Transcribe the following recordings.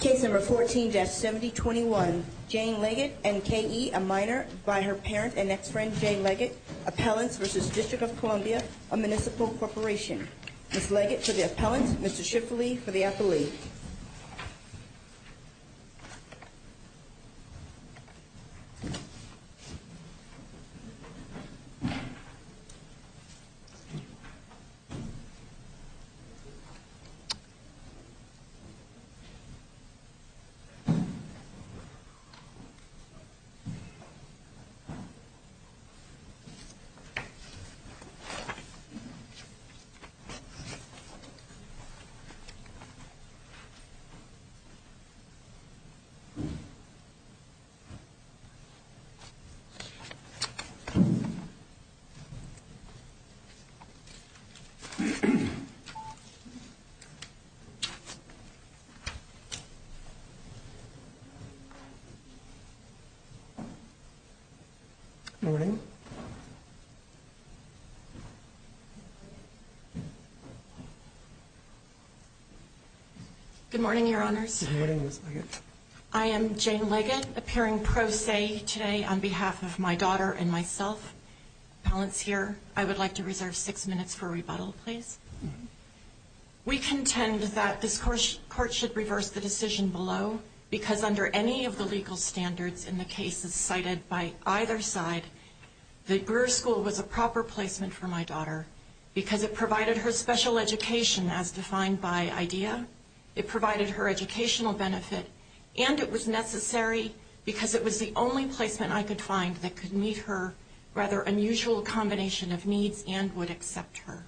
Case number 14-7021, Jane Leggett and K.E., a minor, by her parent and ex-friend, Jane Leggett, Appellants v. District of Columbia, a municipal corporation. Ms. Leggett for the appellant, Mr. Schifferle for the appellee. Mr. Schifferle. Good morning. Good morning, Your Honors. Good morning, Ms. Leggett. I am Jane Leggett, appearing pro se today on behalf of my daughter and myself. Appellants here, I would like to reserve six minutes for rebuttal, please. We contend that this Court should reverse the decision below because under any of the legal standards in the cases cited by either side, the Brewer School was a proper placement for my daughter because it provided her special education, as defined by IDEA. It provided her educational benefit, and it was necessary because it was the only placement I could find that could meet her rather unusual combination of needs and would accept her.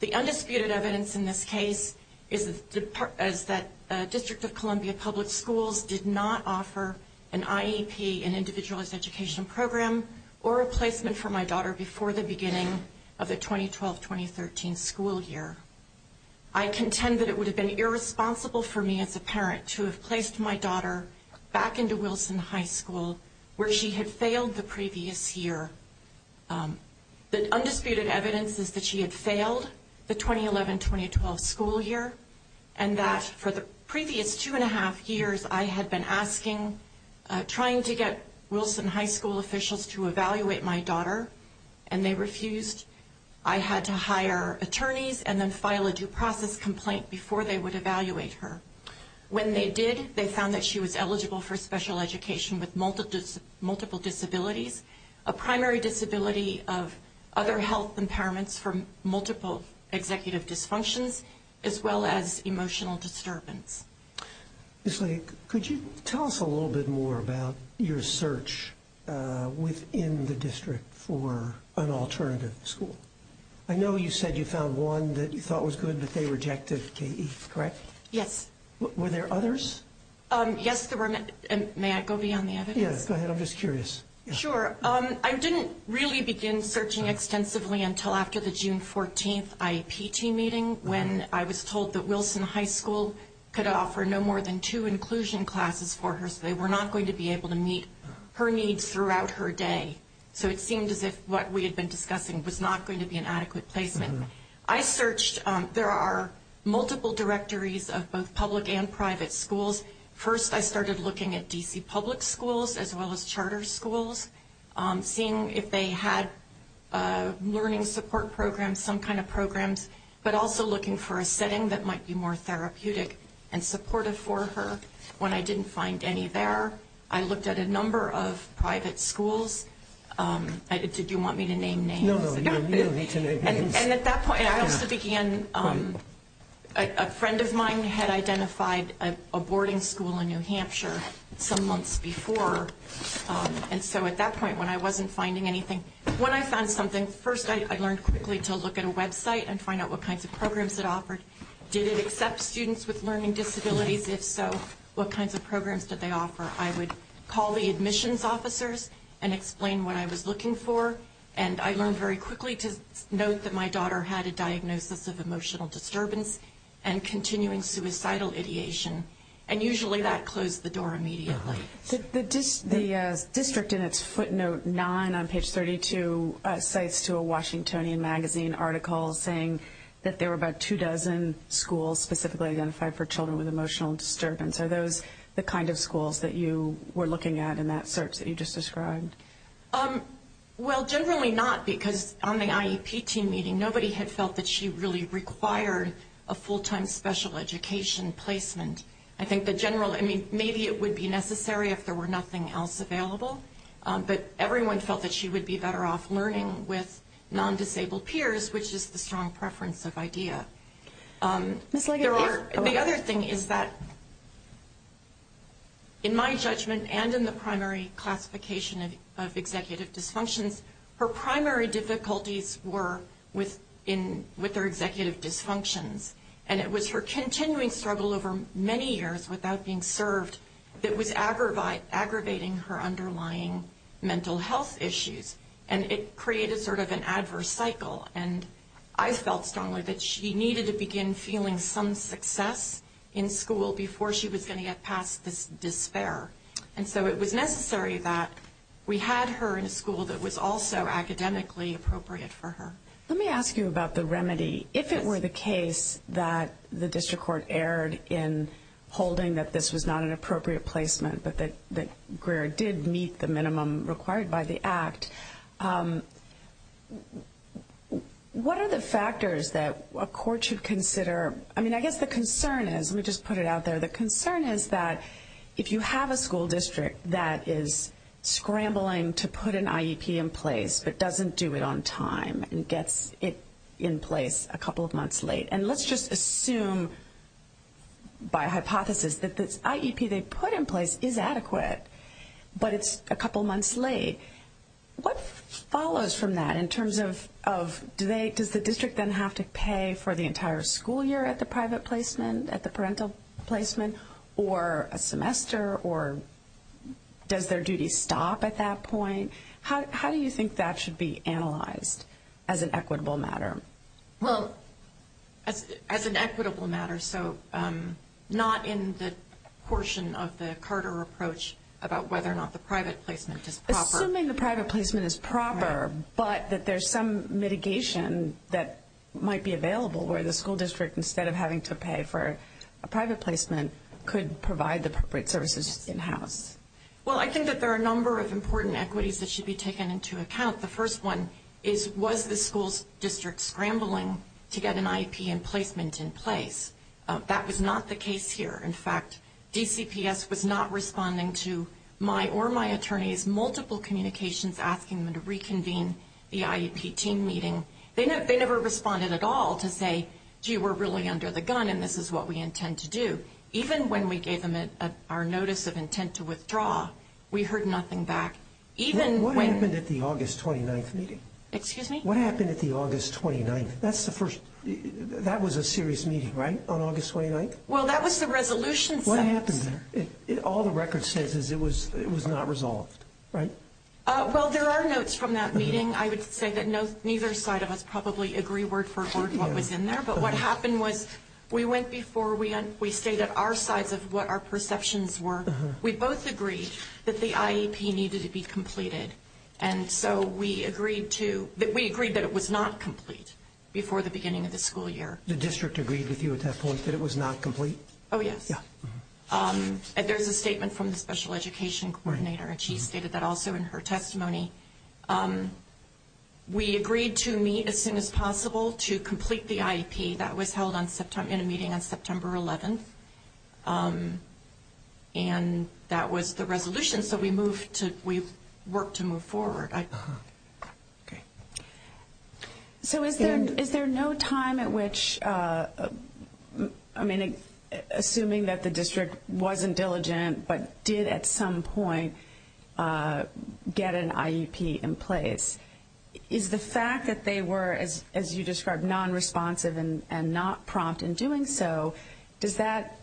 The undisputed evidence in this case is that District of Columbia Public Schools did not offer an IEP, an Individualized Educational Program, or a placement for my daughter before the beginning of the 2012-2013 school year. I contend that it would have been irresponsible for me as a parent to have placed my daughter back into Wilson High School, where she had failed the previous year. The undisputed evidence is that she had failed the 2011-2012 school year and that for the previous two and a half years, I had been asking, trying to get Wilson High School officials to evaluate my daughter, and they refused. I had to hire attorneys and then file a due process complaint before they would evaluate her. When they did, they found that she was eligible for special education with multiple disabilities, a primary disability of other health impairments from multiple executive dysfunctions, as well as emotional disturbance. Ms. Lake, could you tell us a little bit more about your search within the district for an alternative school? I know you said you found one that you thought was good, but they rejected KE, correct? Yes. Were there others? Yes, there were. May I go beyond the evidence? Yes, go ahead. I'm just curious. Sure. I didn't really begin searching extensively until after the June 14th IEP team meeting when I was told that Wilson High School could offer no more than two inclusion classes for her, so they were not going to be able to meet her needs throughout her day. So it seemed as if what we had been discussing was not going to be an adequate placement. I searched. There are multiple directories of both public and private schools. First, I started looking at D.C. public schools as well as charter schools, seeing if they had learning support programs, some kind of programs, but also looking for a setting that might be more therapeutic and supportive for her. When I didn't find any there, I looked at a number of private schools. Did you want me to name names? No, no, you don't need to name names. And at that point, I also began, a friend of mine had identified a boarding school in New Hampshire some months before, and so at that point when I wasn't finding anything, when I found something, first I learned quickly to look at a website and find out what kinds of programs it offered. Did it accept students with learning disabilities? If so, what kinds of programs did they offer? I would call the admissions officers and explain what I was looking for, and I learned very quickly to note that my daughter had a diagnosis of emotional disturbance and continuing suicidal ideation, and usually that closed the door immediately. The district in its footnote 9 on page 32 cites to a Washingtonian magazine article saying that there were about two dozen schools specifically identified for children with emotional disturbance. Are those the kind of schools that you were looking at in that search that you just described? Well, generally not, because on the IEP team meeting, nobody had felt that she really required a full-time special education placement. I think the general, I mean, maybe it would be necessary if there were nothing else available, but everyone felt that she would be better off learning with non-disabled peers, which is the strong preference of IDEA. The other thing is that in my judgment and in the primary classification of executive dysfunctions, her primary difficulties were with her executive dysfunctions, and it was her continuing struggle over many years without being served that was aggravating her underlying mental health issues, and it created sort of an adverse cycle, and I felt strongly that she needed to begin feeling some success in school before she was going to get past this despair. And so it was necessary that we had her in a school that was also academically appropriate for her. Let me ask you about the remedy. If it were the case that the district court erred in holding that this was not an appropriate placement but that Greer did meet the minimum required by the Act, what are the factors that a court should consider? I mean, I guess the concern is, let me just put it out there, the concern is that if you have a school district that is scrambling to put an IEP in place but doesn't do it on time and gets it in place a couple of months late, and let's just assume by hypothesis that this IEP they put in place is adequate, but it's a couple months late, what follows from that in terms of, does the district then have to pay for the entire school year at the private placement, at the parental placement, or a semester, or does their duty stop at that point? How do you think that should be analyzed as an equitable matter? Well, as an equitable matter, so not in the portion of the Carter approach about whether or not the private placement is proper. Assuming the private placement is proper but that there's some mitigation that might be available where the school district, instead of having to pay for a private placement, could provide the appropriate services in-house. Well, I think that there are a number of important equities that should be taken into account. The first one is, was the school district scrambling to get an IEP in placement in place? That was not the case here. In fact, DCPS was not responding to my or my attorney's multiple communications asking them to reconvene the IEP team meeting. They never responded at all to say, gee, we're really under the gun and this is what we intend to do. Even when we gave them our notice of intent to withdraw, we heard nothing back. What happened at the August 29th meeting? Excuse me? What happened at the August 29th? That was a serious meeting, right, on August 29th? Well, that was the resolution. What happened there? All the record says is it was not resolved, right? Well, there are notes from that meeting. I would say that neither side of us probably agree word for word what was in there. But what happened was we went before, we stayed at our sides of what our perceptions were. We both agreed that the IEP needed to be completed. And so we agreed that it was not complete before the beginning of the school year. The district agreed with you at that point that it was not complete? Oh, yes. There's a statement from the special education coordinator, and she stated that also in her testimony. We agreed to meet as soon as possible to complete the IEP. That was held in a meeting on September 11th, and that was the resolution. So we worked to move forward. Okay. So is there no time at which, I mean, assuming that the district wasn't diligent but did at some point get an IEP in place, is the fact that they were, as you described, nonresponsive and not prompt in doing so, does that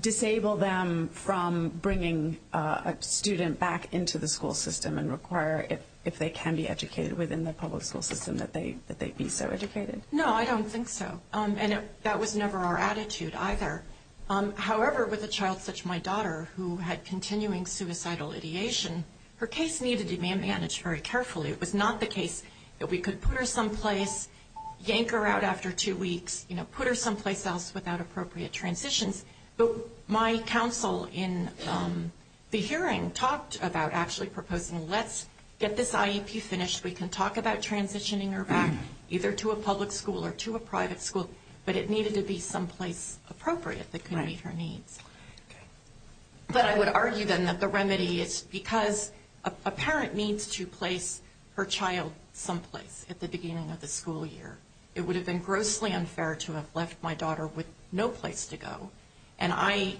disable them from bringing a student back into the school system and require if they can be educated within the public school system that they be so educated? No, I don't think so. And that was never our attitude either. However, with a child such as my daughter who had continuing suicidal ideation, her case needed to be managed very carefully. It was not the case that we could put her someplace, yank her out after two weeks, put her someplace else without appropriate transitions. But my counsel in the hearing talked about actually proposing let's get this IEP finished. We can talk about transitioning her back either to a public school or to a private school, but it needed to be someplace appropriate that could meet her needs. But I would argue then that the remedy is because a parent needs to place her child someplace at the beginning of the school year. It would have been grossly unfair to have left my daughter with no place to go. And I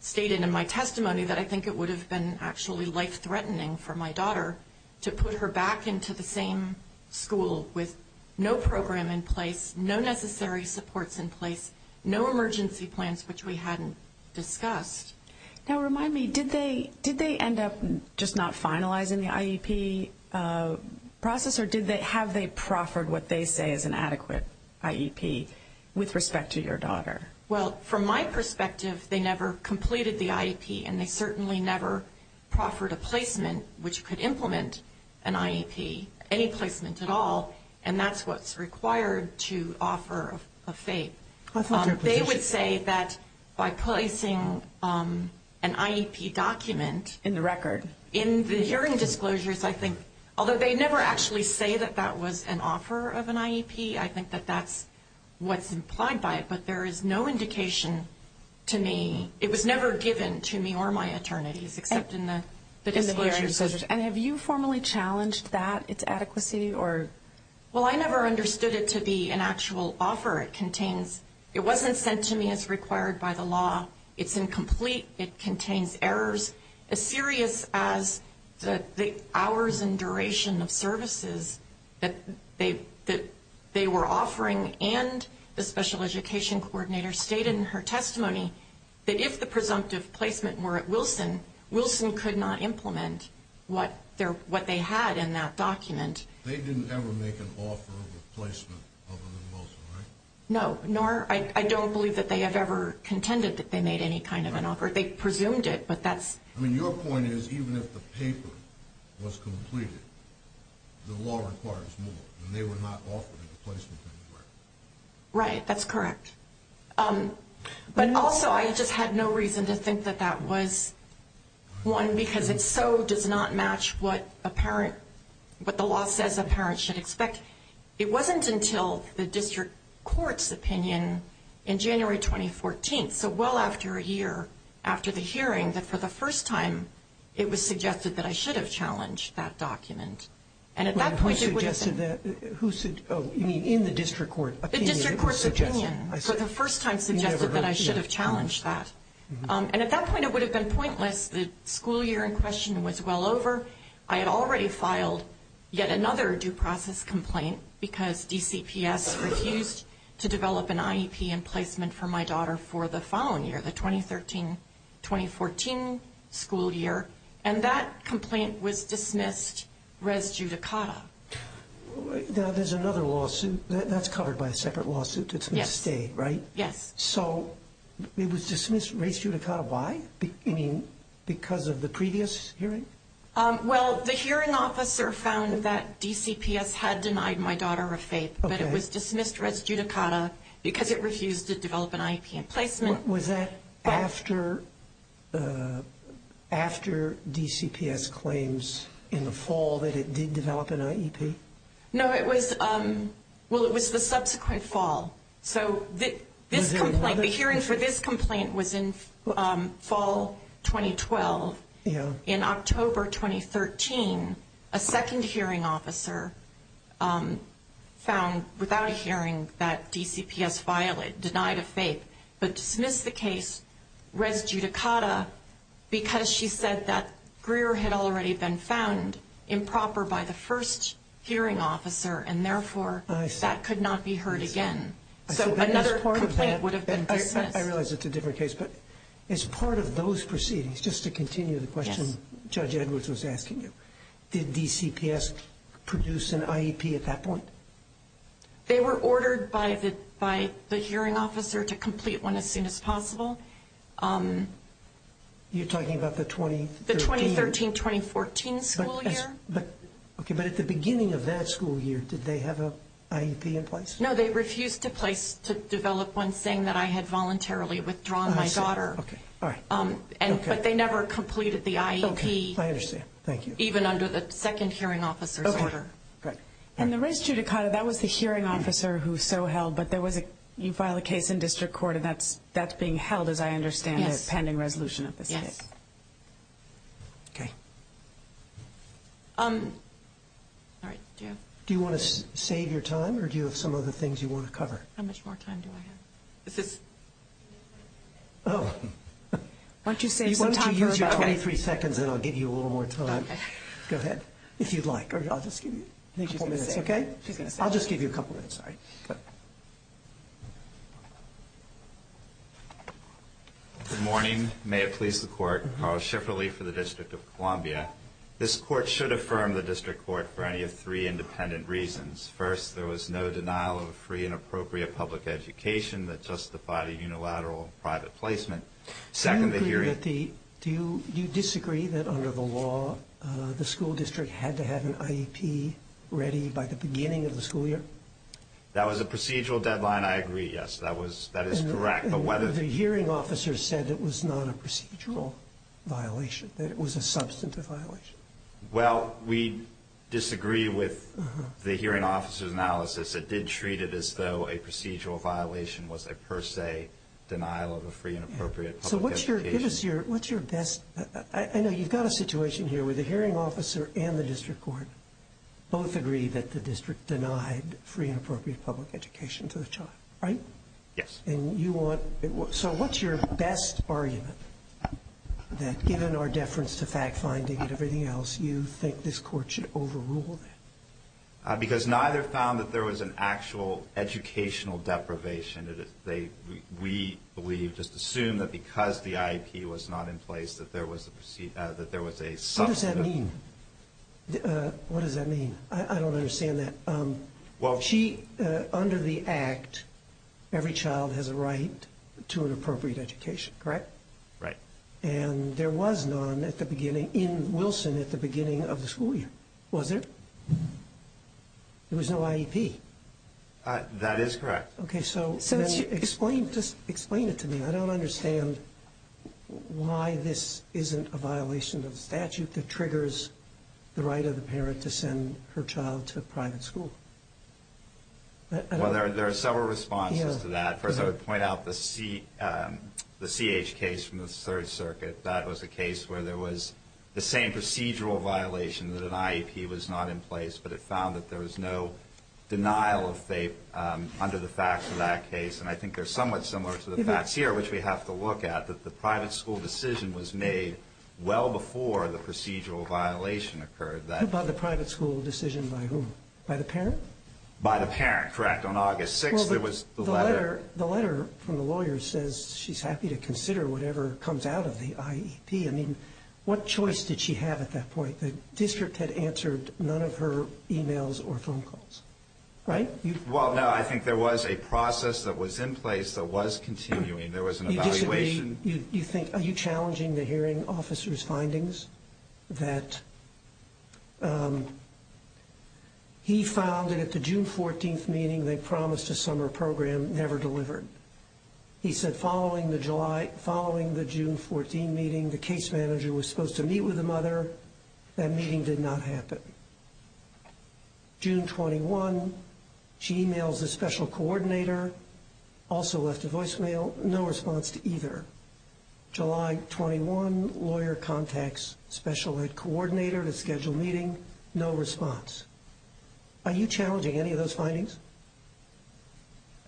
stated in my testimony that I think it would have been actually life-threatening for my daughter to put her back into the same school with no program in place, no necessary supports in place, no emergency plans which we hadn't discussed. Now remind me, did they end up just not finalizing the IEP process, or have they proffered what they say is an adequate IEP with respect to your daughter? Well, from my perspective, they never completed the IEP, and they certainly never proffered a placement which could implement an IEP, any placement at all, and that's what's required to offer a FAPE. They would say that by placing an IEP document in the hearing disclosures, I think although they never actually say that that was an offer of an IEP, I think that that's what's implied by it, but there is no indication to me. It was never given to me or my attorneys except in the disclosures. And have you formally challenged that, its adequacy? Well, I never understood it to be an actual offer. It wasn't sent to me as required by the law. It's incomplete. It contains errors as serious as the hours and duration of services that they were offering, and the special education coordinator stated in her testimony that if the presumptive placement were at Wilson, Wilson could not implement what they had in that document. They didn't ever make an offer of a placement other than Wilson, right? No, nor I don't believe that they have ever contended that they made any kind of an offer. They presumed it, but that's... I mean, your point is even if the paper was completed, the law requires more, and they were not offered a placement anywhere. Right, that's correct. But also I just had no reason to think that that was one because it so does not match what a parent, what the law says a parent should expect. It wasn't until the district court's opinion in January 2014, so well after a year after the hearing, that for the first time it was suggested that I should have challenged that document. And at that point it would have been... Who suggested that? Oh, you mean in the district court opinion? The district court's opinion for the first time suggested that I should have challenged that. And at that point it would have been pointless. The school year in question was well over. I had already filed yet another due process complaint because DCPS refused to develop an IEP and placement for my daughter for the following year, the 2013-2014 school year, and that complaint was dismissed res judicata. Now there's another lawsuit. That's covered by a separate lawsuit. It's misstated, right? Yes. So it was dismissed res judicata. Why? You mean because of the previous hearing? Well, the hearing officer found that DCPS had denied my daughter a FAPE, but it was dismissed res judicata because it refused to develop an IEP and placement. Was that after DCPS claims in the fall that it did develop an IEP? No, it was the subsequent fall. So this complaint, the hearing for this complaint was in fall 2012. In October 2013, a second hearing officer found without a hearing that DCPS denied a FAPE but dismissed the case res judicata because she said that Greer had already been found improper by the first hearing officer and, therefore, that could not be heard again. So another complaint would have been dismissed. I realize it's a different case, but as part of those proceedings, just to continue the question Judge Edwards was asking you, did DCPS produce an IEP at that point? They were ordered by the hearing officer to complete one as soon as possible. You're talking about the 2013? The 2013-2014 school year. Okay, but at the beginning of that school year, did they have an IEP in place? No, they refused to place to develop one saying that I had voluntarily withdrawn my daughter. But they never completed the IEP. Okay, I understand. Thank you. Even under the second hearing officer's order. And the res judicata, that was the hearing officer who so held, but you file a case in district court and that's being held, as I understand it, pending resolution of the state. Yes. Okay. Do you want to save your time or do you have some other things you want to cover? How much more time do I have? Why don't you save some time for her? Why don't you use your 23 seconds and I'll give you a little more time. Okay. Go ahead, if you'd like. I'll just give you a couple minutes, okay? I'll just give you a couple minutes. Good morning. May it please the court. Carl Schifferle for the District of Columbia. This court should affirm the district court for any of three independent reasons. First, there was no denial of a free and appropriate public education that justified a unilateral private placement. Second, the hearing. Do you disagree that under the law, the school district had to have an IEP ready by the beginning of the school year? That was a procedural deadline. I agree, yes. That is correct. The hearing officer said it was not a procedural violation, that it was a substantive violation. Well, we disagree with the hearing officer's analysis. It did treat it as though a procedural violation was a per se denial of a free and appropriate public education. So what's your best – I know you've got a situation here where the hearing officer and the district court both agree that the district denied free and appropriate public education to the child, right? Yes. And you want – so what's your best argument that given our deference to fact finding and everything else, you think this court should overrule that? Because neither found that there was an actual educational deprivation. We just assume that because the IEP was not in place that there was a – What does that mean? What does that mean? I don't understand that. She – under the Act, every child has a right to an appropriate education, correct? Right. And there was none at the beginning – in Wilson at the beginning of the school year, was there? There was no IEP. That is correct. Okay, so explain it to me. I don't understand why this isn't a violation of the statute that triggers the right of the parent to send her child to a private school. Well, there are several responses to that. First, I would point out the CH case from the Third Circuit. That was a case where there was the same procedural violation that an IEP was not in place, but it found that there was no denial of – under the facts of that case. And I think they're somewhat similar to the facts here, which we have to look at, that the private school decision was made well before the procedural violation occurred. By the private school decision by whom? By the parent? By the parent, correct. On August 6th, there was the letter. The letter from the lawyer says she's happy to consider whatever comes out of the IEP. I mean, what choice did she have at that point? The district had answered none of her emails or phone calls, right? Well, no, I think there was a process that was in place that was continuing. There was an evaluation. You think – are you challenging the hearing officer's findings that he found that at the June 14th meeting they promised a summer program, never delivered? He said following the July – following the June 14 meeting, the case manager was supposed to meet with the mother. That meeting did not happen. June 21, she emails the special coordinator, also left a voicemail, no response to either. July 21, lawyer contacts special coordinator to schedule meeting, no response. Are you challenging any of those findings?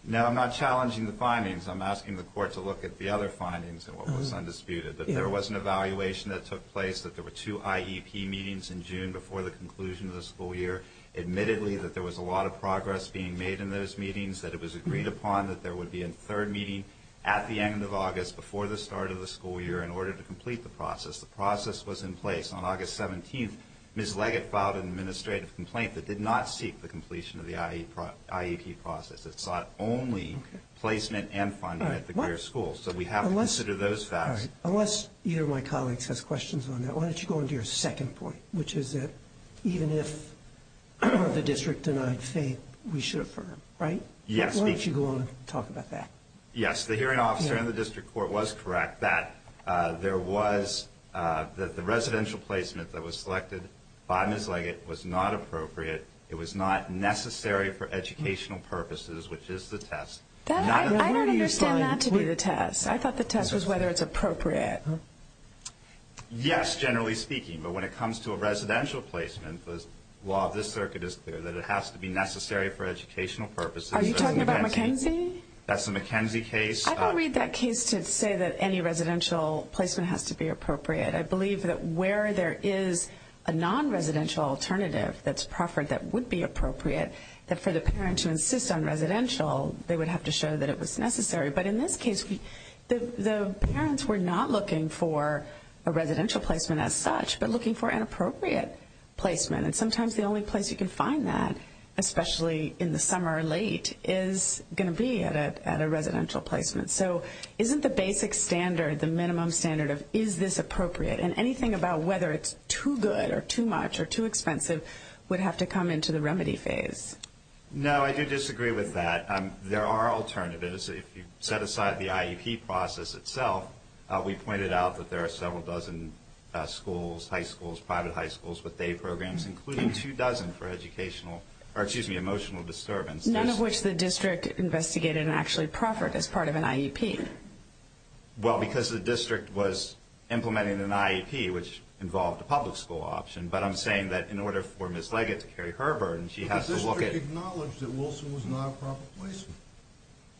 No, I'm not challenging the findings. I'm asking the court to look at the other findings and what was undisputed. But there was an evaluation that took place that there were two IEP meetings in June before the conclusion of the school year. Admittedly, that there was a lot of progress being made in those meetings, that it was agreed upon that there would be a third meeting at the end of August before the start of the school year in order to complete the process. The process was in place. On August 17th, Ms. Leggett filed an administrative complaint that did not seek the completion of the IEP process. It sought only placement and funding at the Greer School. So we have to consider those facts. Unless either of my colleagues has questions on that, why don't you go on to your second point, which is that even if the district denied fate, we should affirm, right? Yes. Why don't you go on and talk about that? Yes, the hearing officer in the district court was correct that there was the residential placement that was selected by Ms. Leggett was not appropriate. It was not necessary for educational purposes, which is the test. I don't understand that to be the test. I thought the test was whether it's appropriate. Yes, generally speaking, but when it comes to a residential placement, the law of this circuit is clear that it has to be necessary for educational purposes. Are you talking about McKenzie? That's the McKenzie case. I don't read that case to say that any residential placement has to be appropriate. I believe that where there is a non-residential alternative that's proffered that would be appropriate, that for the parent to insist on residential, they would have to show that it was necessary. But in this case, the parents were not looking for a residential placement as such, but looking for an appropriate placement. And sometimes the only place you can find that, especially in the summer or late, is going to be at a residential placement. So isn't the basic standard the minimum standard of is this appropriate? And anything about whether it's too good or too much or too expensive would have to come into the remedy phase. No, I do disagree with that. There are alternatives. If you set aside the IEP process itself, we pointed out that there are several dozen schools, high schools, private high schools with day programs, including two dozen for educational, or excuse me, emotional disturbance. None of which the district investigated and actually proffered as part of an IEP. Well, because the district was implementing an IEP, which involved a public school option. But I'm saying that in order for Ms. Leggett to carry her burden, she has to look at it. But the district acknowledged that Wilson was not a proper placement.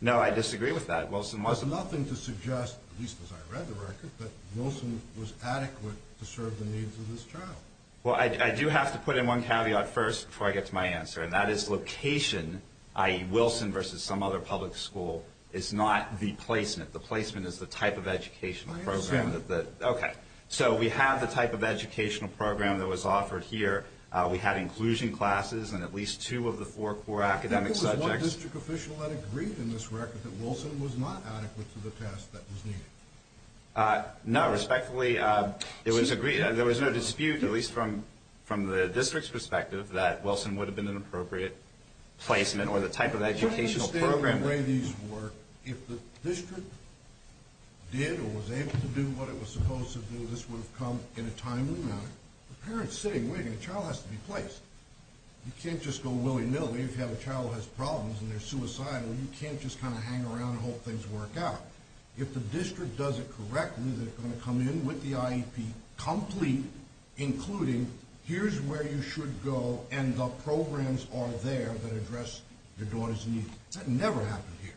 No, I disagree with that. There's nothing to suggest, at least as I read the record, that Wilson was adequate to serve the needs of this child. Well, I do have to put in one caveat first before I get to my answer, and that is location, i.e., Wilson versus some other public school, is not the placement. The placement is the type of educational program. I understand. Okay. So we have the type of educational program that was offered here. We had inclusion classes in at least two of the four core academic subjects. There was one district official that agreed in this record that Wilson was not adequate to the test that was needed. No, respectfully, there was no dispute, at least from the district's perspective, that Wilson would have been an appropriate placement or the type of educational program. The way these work, if the district did or was able to do what it was supposed to do, this would have come in a timely manner. The parent's sitting waiting. The child has to be placed. You can't just go willy-nilly. If you have a child who has problems and they're suicidal, you can't just kind of hang around and hope things work out. If the district does it correctly, they're going to come in with the IEP complete, including here's where you should go and the programs are there that address your daughter's needs. That never happened here.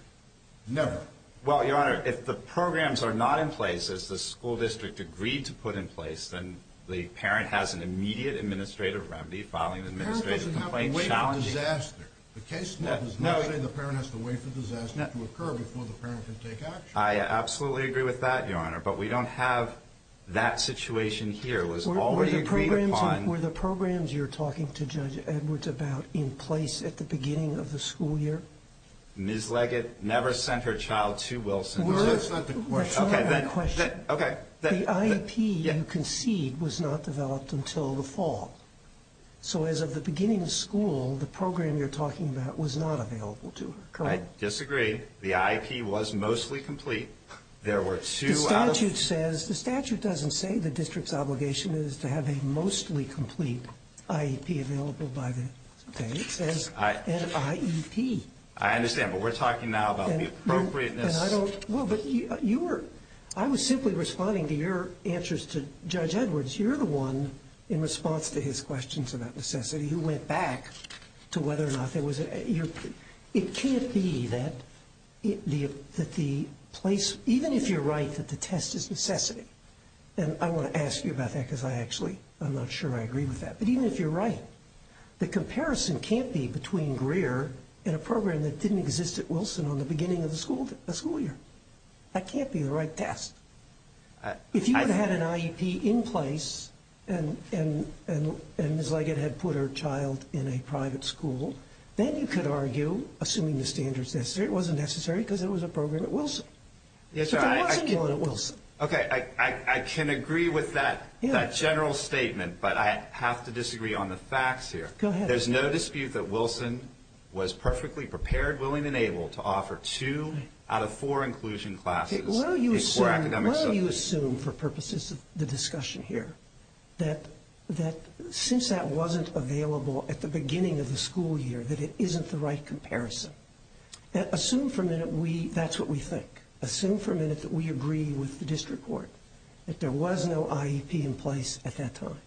Never. Well, Your Honor, if the programs are not in place, as the school district agreed to put in place, then the parent has an immediate administrative remedy, filing an administrative complaint, challenging. The parent doesn't have to wait for disaster. The case does not say the parent has to wait for disaster to occur before the parent can take action. I absolutely agree with that, Your Honor, but we don't have that situation here. Were the programs you're talking to Judge Edwards about in place at the beginning of the school year? Ms. Leggett never sent her child to Wilson. That's not my question. Okay. The IEP you concede was not developed until the fall. So as of the beginning of school, the program you're talking about was not available to her. I disagree. The IEP was mostly complete. The statute says, the statute doesn't say the district's obligation is to have a mostly complete IEP available by the date. It says an IEP. I understand, but we're talking now about the appropriateness. I was simply responding to your answers to Judge Edwards. You're the one, in response to his questions about necessity, who went back to whether or not there was an IEP. It can't be that the place, even if you're right that the test is necessity, and I want to ask you about that because I actually, I'm not sure I agree with that, but even if you're right, the comparison can't be between Greer and a program that didn't exist at Wilson on the beginning of the school year. That can't be the right test. If you had had an IEP in place and Ms. Leggett had put her child in a private school, then you could argue, assuming the standards necessary, it wasn't necessary because it was a program at Wilson. But there wasn't one at Wilson. Okay. I can agree with that general statement, but I have to disagree on the facts here. Go ahead. There's no dispute that Wilson was perfectly prepared, willing, and able to offer two out of four inclusion classes. Well, you assume, for purposes of the discussion here, that since that wasn't available at the beginning of the school year, that it isn't the right comparison. Assume for a minute that's what we think. Assume for a minute that we agree with the district court that there was no IEP in place at that time.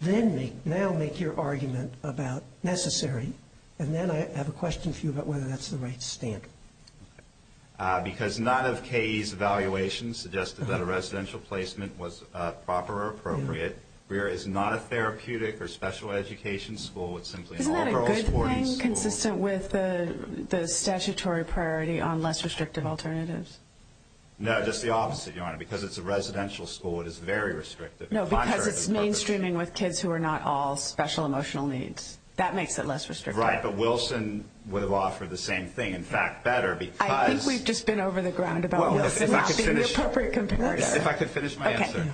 Then now make your argument about necessary, and then I have a question for you about whether that's the right standard. Because none of KE's evaluations suggested that a residential placement was proper or appropriate. Greer is not a therapeutic or special education school. Isn't that a good thing, consistent with the statutory priority on less restrictive alternatives? No, just the opposite, Your Honor. Because it's a residential school, it is very restrictive. No, because it's mainstreaming with kids who are not all special emotional needs. That makes it less restrictive. Right, but Wilson would have offered the same thing. In fact, better. I think we've just been over the ground about this not being the appropriate comparison. If I could finish my answer.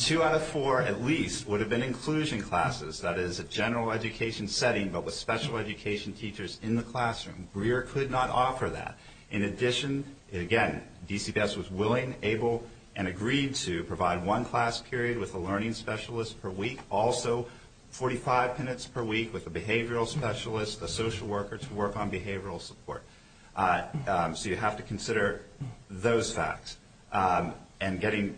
Two out of four, at least, would have been inclusion classes. That is a general education setting, but with special education teachers in the classroom. Greer could not offer that. In addition, again, DCPS was willing, able, and agreed to provide one class period with a learning specialist per week. Also, 45 minutes per week with a behavioral specialist, a social worker to work on behavioral support. So you have to consider those facts. And getting,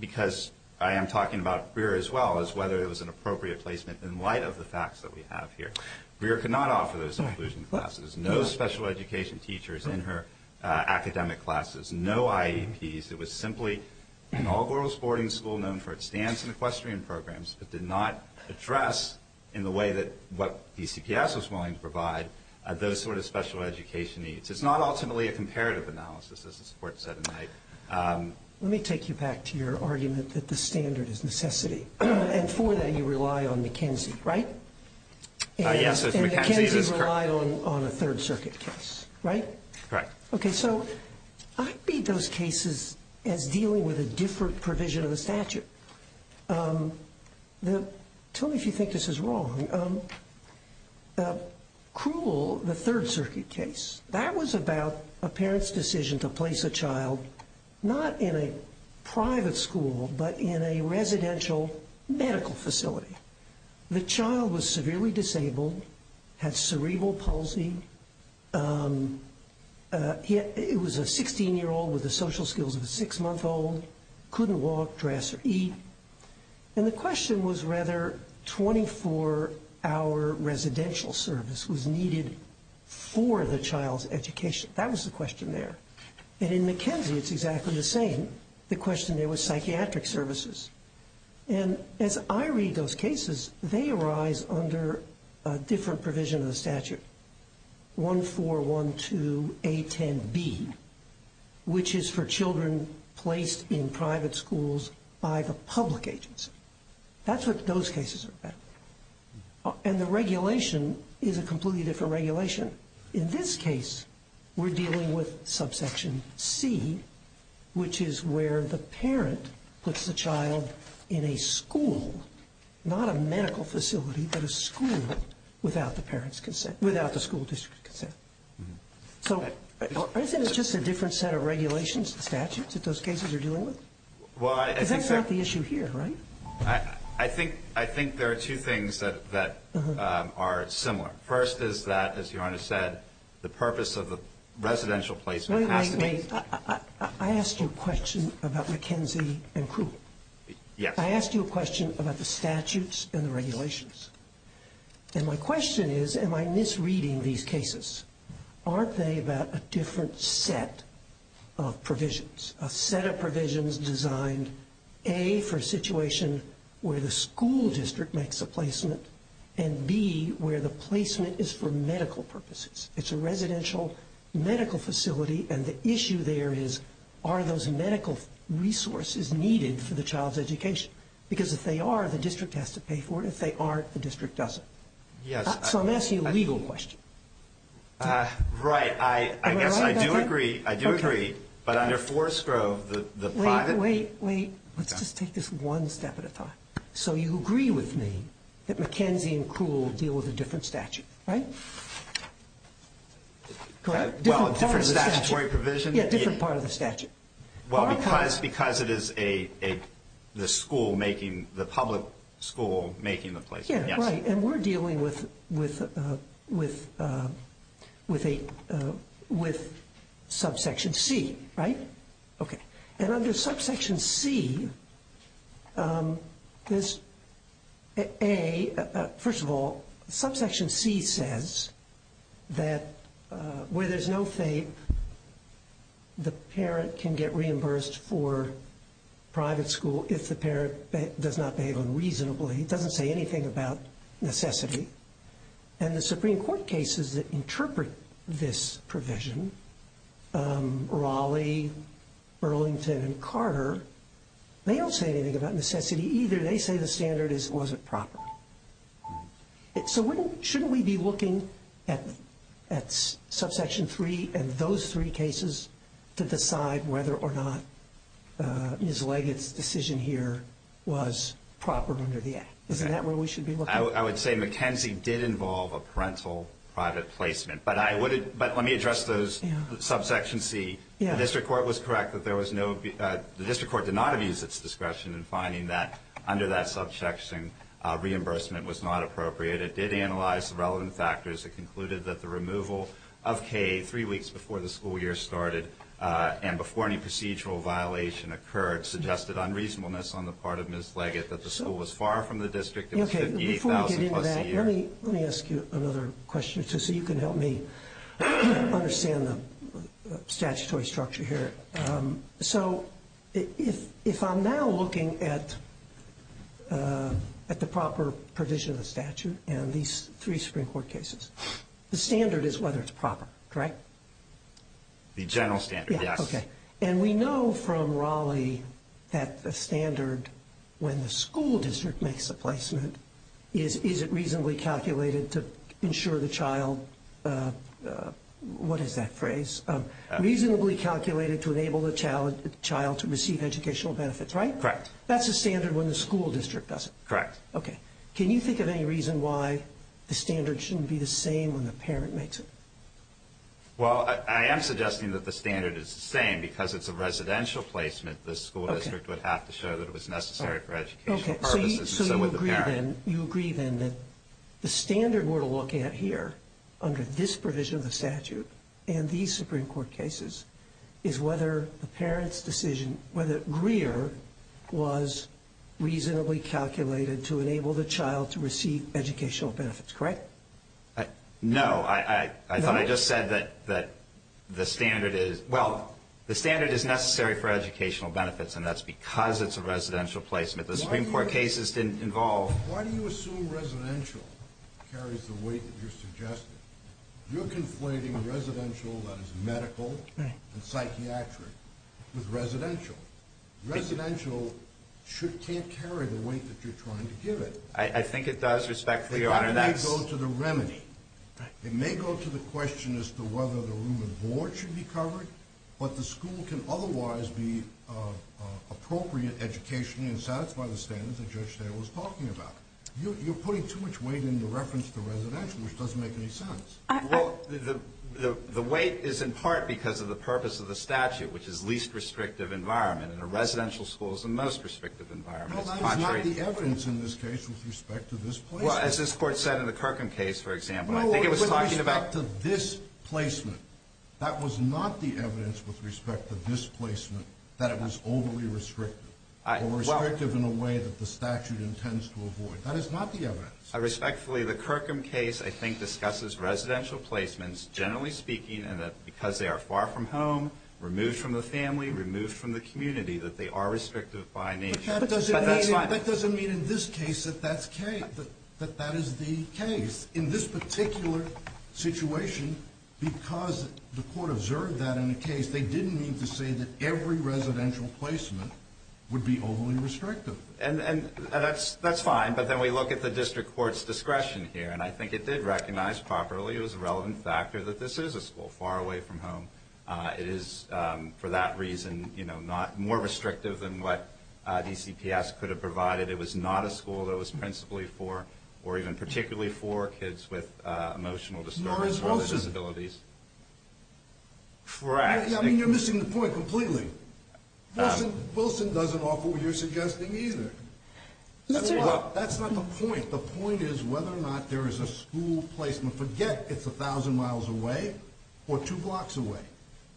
because I am talking about Greer as well, is whether it was an appropriate placement in light of the facts that we have here. Greer could not offer those inclusion classes. No special education teachers in her academic classes. No IEPs. It was simply an all-girls boarding school known for its dance and equestrian programs, but did not address in the way that what DCPS was willing to provide those sort of special education needs. It's not ultimately a comparative analysis, as the support said tonight. Let me take you back to your argument that the standard is necessity. And for that you rely on McKenzie, right? Yes, McKenzie is correct. And McKenzie relied on a Third Circuit case, right? Correct. Okay, so I read those cases as dealing with a different provision of the statute. Tell me if you think this is wrong. Cruel, the Third Circuit case, that was about a parent's decision to place a child not in a private school, but in a residential medical facility. The child was severely disabled, had cerebral palsy, it was a 16-year-old with the social skills of a six-month-old, couldn't walk, dress, or eat. And the question was rather 24-hour residential service was needed for the child's education. That was the question there. And in McKenzie it's exactly the same. The question there was psychiatric services. And as I read those cases, they arise under a different provision of the statute, 1412A10B, which is for children placed in private schools by the public agency. That's what those cases are about. And the regulation is a completely different regulation. In this case, we're dealing with subsection C, which is where the parent puts the child in a school, not a medical facility, but a school without the school district's consent. So isn't it just a different set of regulations and statutes that those cases are dealing with? Because that's not the issue here, right? I think there are two things that are similar. First is that, as Your Honor said, the purpose of the residential placement has to be- Wait, wait, wait. I asked you a question about McKenzie and Crew. Yes. I asked you a question about the statutes and the regulations. And my question is am I misreading these cases? Aren't they about a different set of provisions, a set of provisions designed, A, for a situation where the school district makes a placement, and, B, where the placement is for medical purposes? It's a residential medical facility, and the issue there is are those medical resources needed for the child's education? Because if they are, the district has to pay for it. If they aren't, the district doesn't. Yes. So I'm asking you a legal question. Right. I guess I do agree. I do agree. But under Forest Grove, the private- Wait, wait, wait. Let's just take this one step at a time. So you agree with me that McKenzie and Crew will deal with a different statute, right? Correct? Well, a different statutory provision? Yeah, a different part of the statute. Well, because it is the school making, the public school making the placement. Yeah, right. And we're dealing with subsection C, right? Okay. And under subsection C, there's a- First of all, subsection C says that where there's no FAPE, the parent can get reimbursed for private school if the parent does not behave unreasonably. It doesn't say anything about necessity. And the Supreme Court cases that interpret this provision, Raleigh, Burlington, and Carter, they don't say anything about necessity either. They say the standard is it wasn't proper. So shouldn't we be looking at subsection 3 and those three cases to decide whether or not Ms. Leggett's decision here was proper under the Act? Isn't that where we should be looking? I would say McKenzie did involve a parental private placement. But let me address those subsection C. The district court was correct that there was no- the district court did not abuse its discretion in finding that under that subsection, reimbursement was not appropriate. It did analyze the relevant factors. It concluded that the removal of K three weeks before the school year started and before any procedural violation occurred suggested unreasonableness on the part of Ms. Leggett that the school was far from the district. Before we get into that, let me ask you another question or two so you can help me understand the statutory structure here. So if I'm now looking at the proper provision of the statute and these three Supreme Court cases, the standard is whether it's proper, correct? The general standard, yes. Okay. And we know from Raleigh that the standard when the school district makes a placement, is it reasonably calculated to ensure the child- what is that phrase? Reasonably calculated to enable the child to receive educational benefits, right? Correct. That's a standard when the school district does it. Correct. Okay. Can you think of any reason why the standard shouldn't be the same when the parent makes it? Well, I am suggesting that the standard is the same. Because it's a residential placement, the school district would have to show that it was necessary for educational purposes and so would the parent. Okay. So you agree then that the standard we're looking at here under this provision of the statute and these Supreme Court cases is whether the parent's decision- whether Greer was reasonably calculated to enable the child to receive educational benefits, correct? No, I thought I just said that the standard is- well, the standard is necessary for educational benefits and that's because it's a residential placement. The Supreme Court cases didn't involve- Why do you assume residential carries the weight that you're suggesting? You're conflating residential that is medical and psychiatric with residential. Residential can't carry the weight that you're trying to give it. I think it does, respectfully, Your Honor. It may go to the remedy. It may go to the question as to whether the room and board should be covered, but the school can otherwise be appropriate educationally and satisfy the standards that Judge Dale was talking about. You're putting too much weight in the reference to residential, which doesn't make any sense. Well, the weight is in part because of the purpose of the statute, which is least restrictive environment, and a residential school is the most restrictive environment. No, that is not the evidence in this case with respect to this place. Well, as this Court said in the Kirkham case, for example, I think it was talking about- No, with respect to this placement. That was not the evidence with respect to this placement that it was overly restrictive or restrictive in a way that the statute intends to avoid. That is not the evidence. Respectfully, the Kirkham case, I think, discusses residential placements, generally speaking, and that because they are far from home, removed from the family, removed from the community, that they are restrictive by nature. But that doesn't mean in this case that that's carried. But that is the case. In this particular situation, because the Court observed that in the case, they didn't mean to say that every residential placement would be overly restrictive. And that's fine, but then we look at the District Court's discretion here, and I think it did recognize properly it was a relevant factor that this is a school far away from home. It is, for that reason, more restrictive than what DCPS could have provided. It was not a school that was principally for, or even particularly for, kids with emotional disorders or disabilities. Nor is Wilson. I mean, you're missing the point completely. Wilson doesn't offer what you're suggesting either. That's not the point. The point is whether or not there is a school placement. Forget it's a thousand miles away or two blocks away.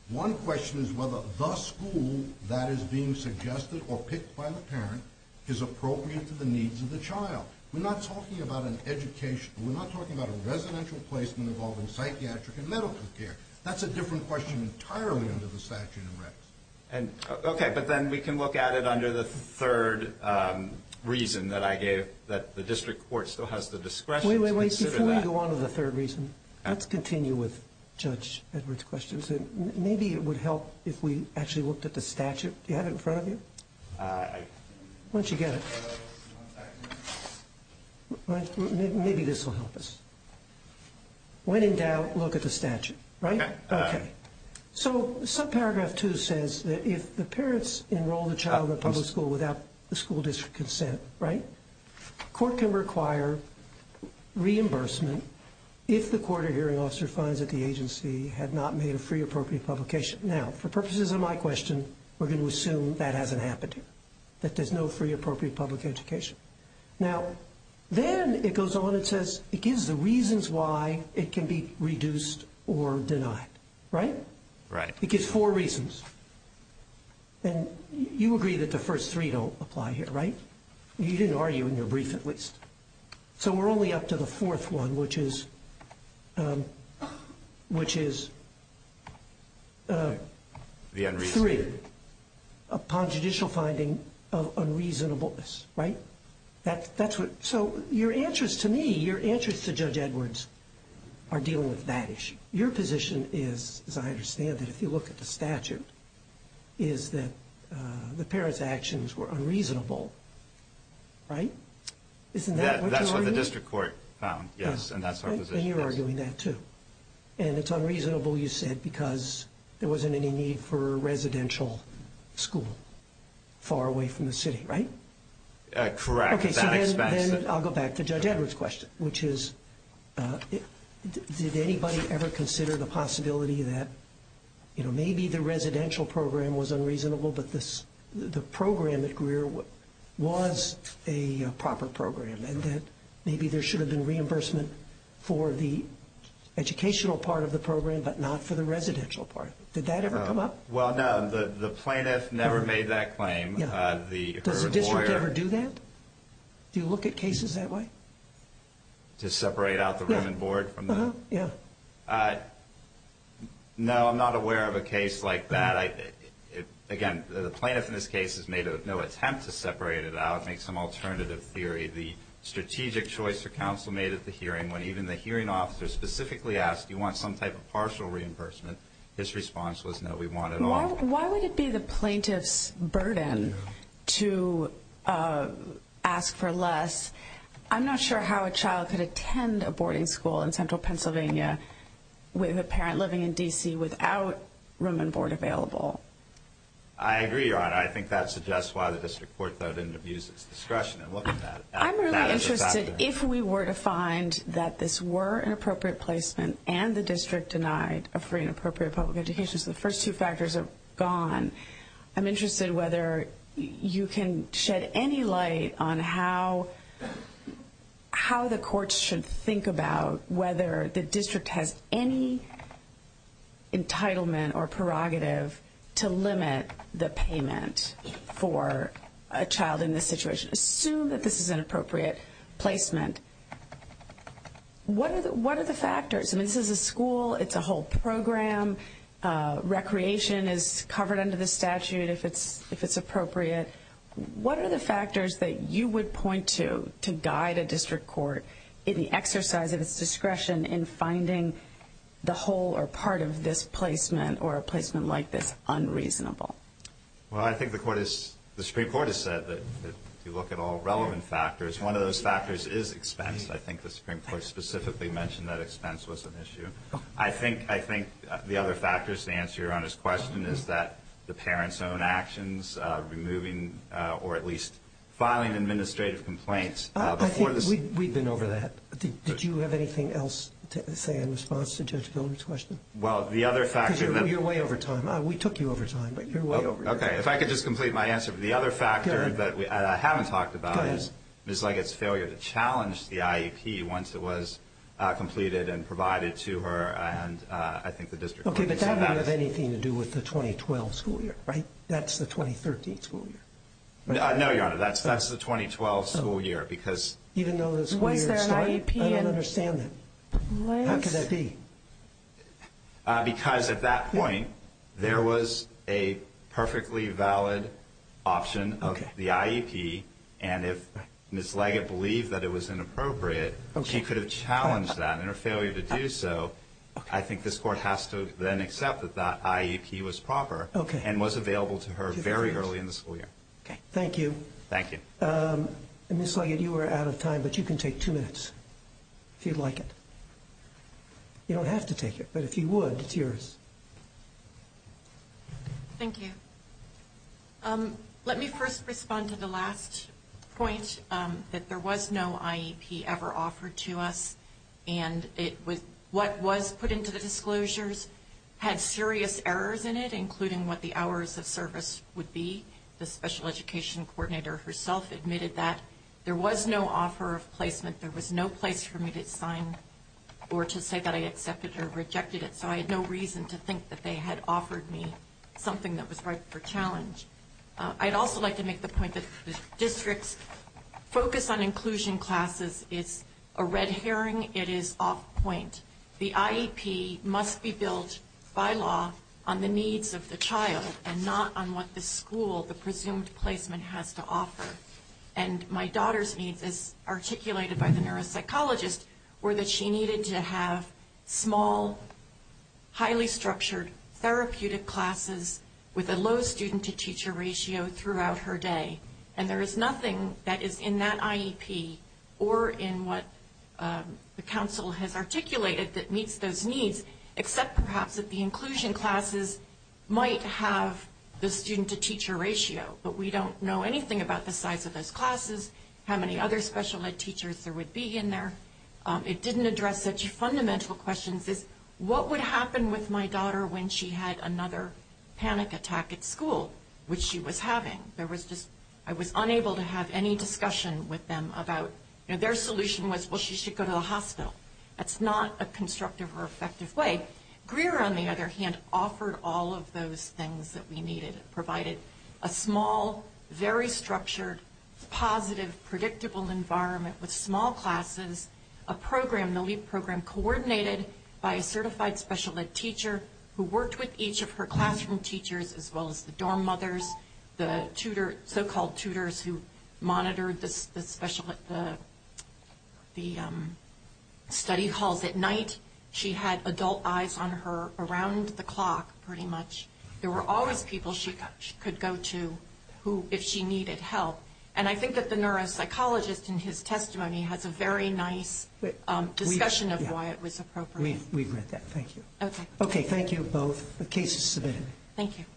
One question is whether the school that is being suggested or picked by the parent is appropriate to the needs of the child. We're not talking about an education. We're not talking about a residential placement involving psychiatric and medical care. That's a different question entirely under the statute of records. Okay, but then we can look at it under the third reason that I gave, that the District Court still has the discretion to consider that. Wait, wait, wait. Before we go on to the third reason, let's continue with Judge Edwards' question. Maybe it would help if we actually looked at the statute. Do you have it in front of you? Why don't you get it? Maybe this will help us. When in doubt, look at the statute, right? Okay. So subparagraph 2 says that if the parents enroll the child in a public school without the school district consent, right, the court can require reimbursement if the court or hearing officer finds that the agency had not made a free appropriate publication. Now, for purposes of my question, we're going to assume that hasn't happened here, that there's no free appropriate public education. Now, then it goes on and says it gives the reasons why it can be reduced or denied, right? Right. It gives four reasons. And you agree that the first three don't apply here, right? You didn't argue in your brief, at least. So we're only up to the fourth one, which is three. Upon judicial finding of unreasonableness, right? So your answers to me, your answers to Judge Edwards are dealing with that issue. Your position is, as I understand it, if you look at the statute, is that the parents' actions were unreasonable, right? Isn't that what you're arguing? That's what the district court found, yes, and that's our position. And you're arguing that, too. And it's unreasonable, you said, because there wasn't any need for a residential school far away from the city, right? Correct. Okay, so then I'll go back to Judge Edwards' question, which is, did anybody ever consider the possibility that, you know, maybe the residential program was unreasonable, but the program at Greer was a proper program, and that maybe there should have been reimbursement for the educational part of the program but not for the residential part. Did that ever come up? Well, no. The plaintiff never made that claim. Does the district ever do that? Do you look at cases that way? To separate out the room and board? Uh-huh, yeah. No, I'm not aware of a case like that. Again, the plaintiff in this case has made no attempt to separate it out, make some alternative theory. The strategic choice for counsel made at the hearing when even the hearing officer specifically asked, do you want some type of partial reimbursement? His response was, no, we want it all. Why would it be the plaintiff's burden to ask for less? I'm not sure how a child could attend a boarding school in central Pennsylvania with a parent living in D.C. without room and board available. I agree, Your Honor. I think that suggests why the district court, though, didn't abuse its discretion in looking at that. I'm really interested if we were to find that this were an appropriate placement and the district denied a free and appropriate public education. So the first two factors are gone. I'm interested whether you can shed any light on how the courts should think about whether the district has any entitlement or prerogative to limit the payment for a child in this situation. Assume that this is an appropriate placement. What are the factors? I mean, this is a school. It's a whole program. Recreation is covered under the statute if it's appropriate. What are the factors that you would point to to guide a district court in the exercise of its discretion in finding the whole or part of this placement or a placement like this unreasonable? Well, I think the Supreme Court has said that if you look at all relevant factors, one of those factors is expense. I think the Supreme Court specifically mentioned that expense was an issue. I think the other factors to answer Your Honor's question is that the parents' own actions, removing or at least filing administrative complaints before this. I think we've been over that. Did you have anything else to say in response to Judge Pilgrim's question? Well, the other factor. Because you're way over time. We took you over time, but you're way over time. Okay. If I could just complete my answer. The other factor that I haven't talked about is Ms. Leggett's failure to challenge the IEP once it was completed and provided to her and I think the district court. Okay, but that doesn't have anything to do with the 2012 school year, right? That's the 2013 school year. No, Your Honor. That's the 2012 school year because even though the school year started. Was there an IEP? I don't understand that. How could that be? Because at that point there was a perfectly valid option of the IEP and if Ms. Leggett believed that it was inappropriate, she could have challenged that. In her failure to do so, I think this court has to then accept that that IEP was proper and was available to her very early in the school year. Thank you. Thank you. Ms. Leggett, you were out of time, but you can take two minutes if you'd like it. You don't have to take it, but if you would, it's yours. Thank you. Let me first respond to the last point that there was no IEP ever offered to us and what was put into the disclosures had serious errors in it, including what the hours of service would be. The special education coordinator herself admitted that there was no offer of placement. There was no place for me to sign or to say that I accepted or rejected it, so I had no reason to think that they had offered me something that was ripe for challenge. I'd also like to make the point that the district's focus on inclusion classes is a red herring. It is off point. The IEP must be built by law on the needs of the child and not on what the school, the presumed placement, has to offer. And my daughter's needs, as articulated by the neuropsychologist, were that she needed to have small, highly structured, therapeutic classes with a low student-to-teacher ratio throughout her day. And there is nothing that is in that IEP or in what the council has articulated that meets those needs except perhaps that the inclusion classes might have the student-to-teacher ratio, but we don't know anything about the size of those classes, how many other special ed teachers there would be in there. It didn't address such fundamental questions as, what would happen with my daughter when she had another panic attack at school, which she was having? I was unable to have any discussion with them about, their solution was, well, she should go to the hospital. That's not a constructive or effective way. Greer, on the other hand, offered all of those things that we needed. Provided a small, very structured, positive, predictable environment with small classes, a program, the LEAP program, coordinated by a certified special ed teacher who worked with each of her classroom teachers as well as the dorm mothers, the so-called tutors who monitored the study halls at night. She had adult eyes on her around the clock, pretty much. There were always people she could go to if she needed help. And I think that the neuropsychologist in his testimony has a very nice discussion of why it was appropriate. We agree with that. Thank you. Okay, thank you both. The case is submitted. Thank you.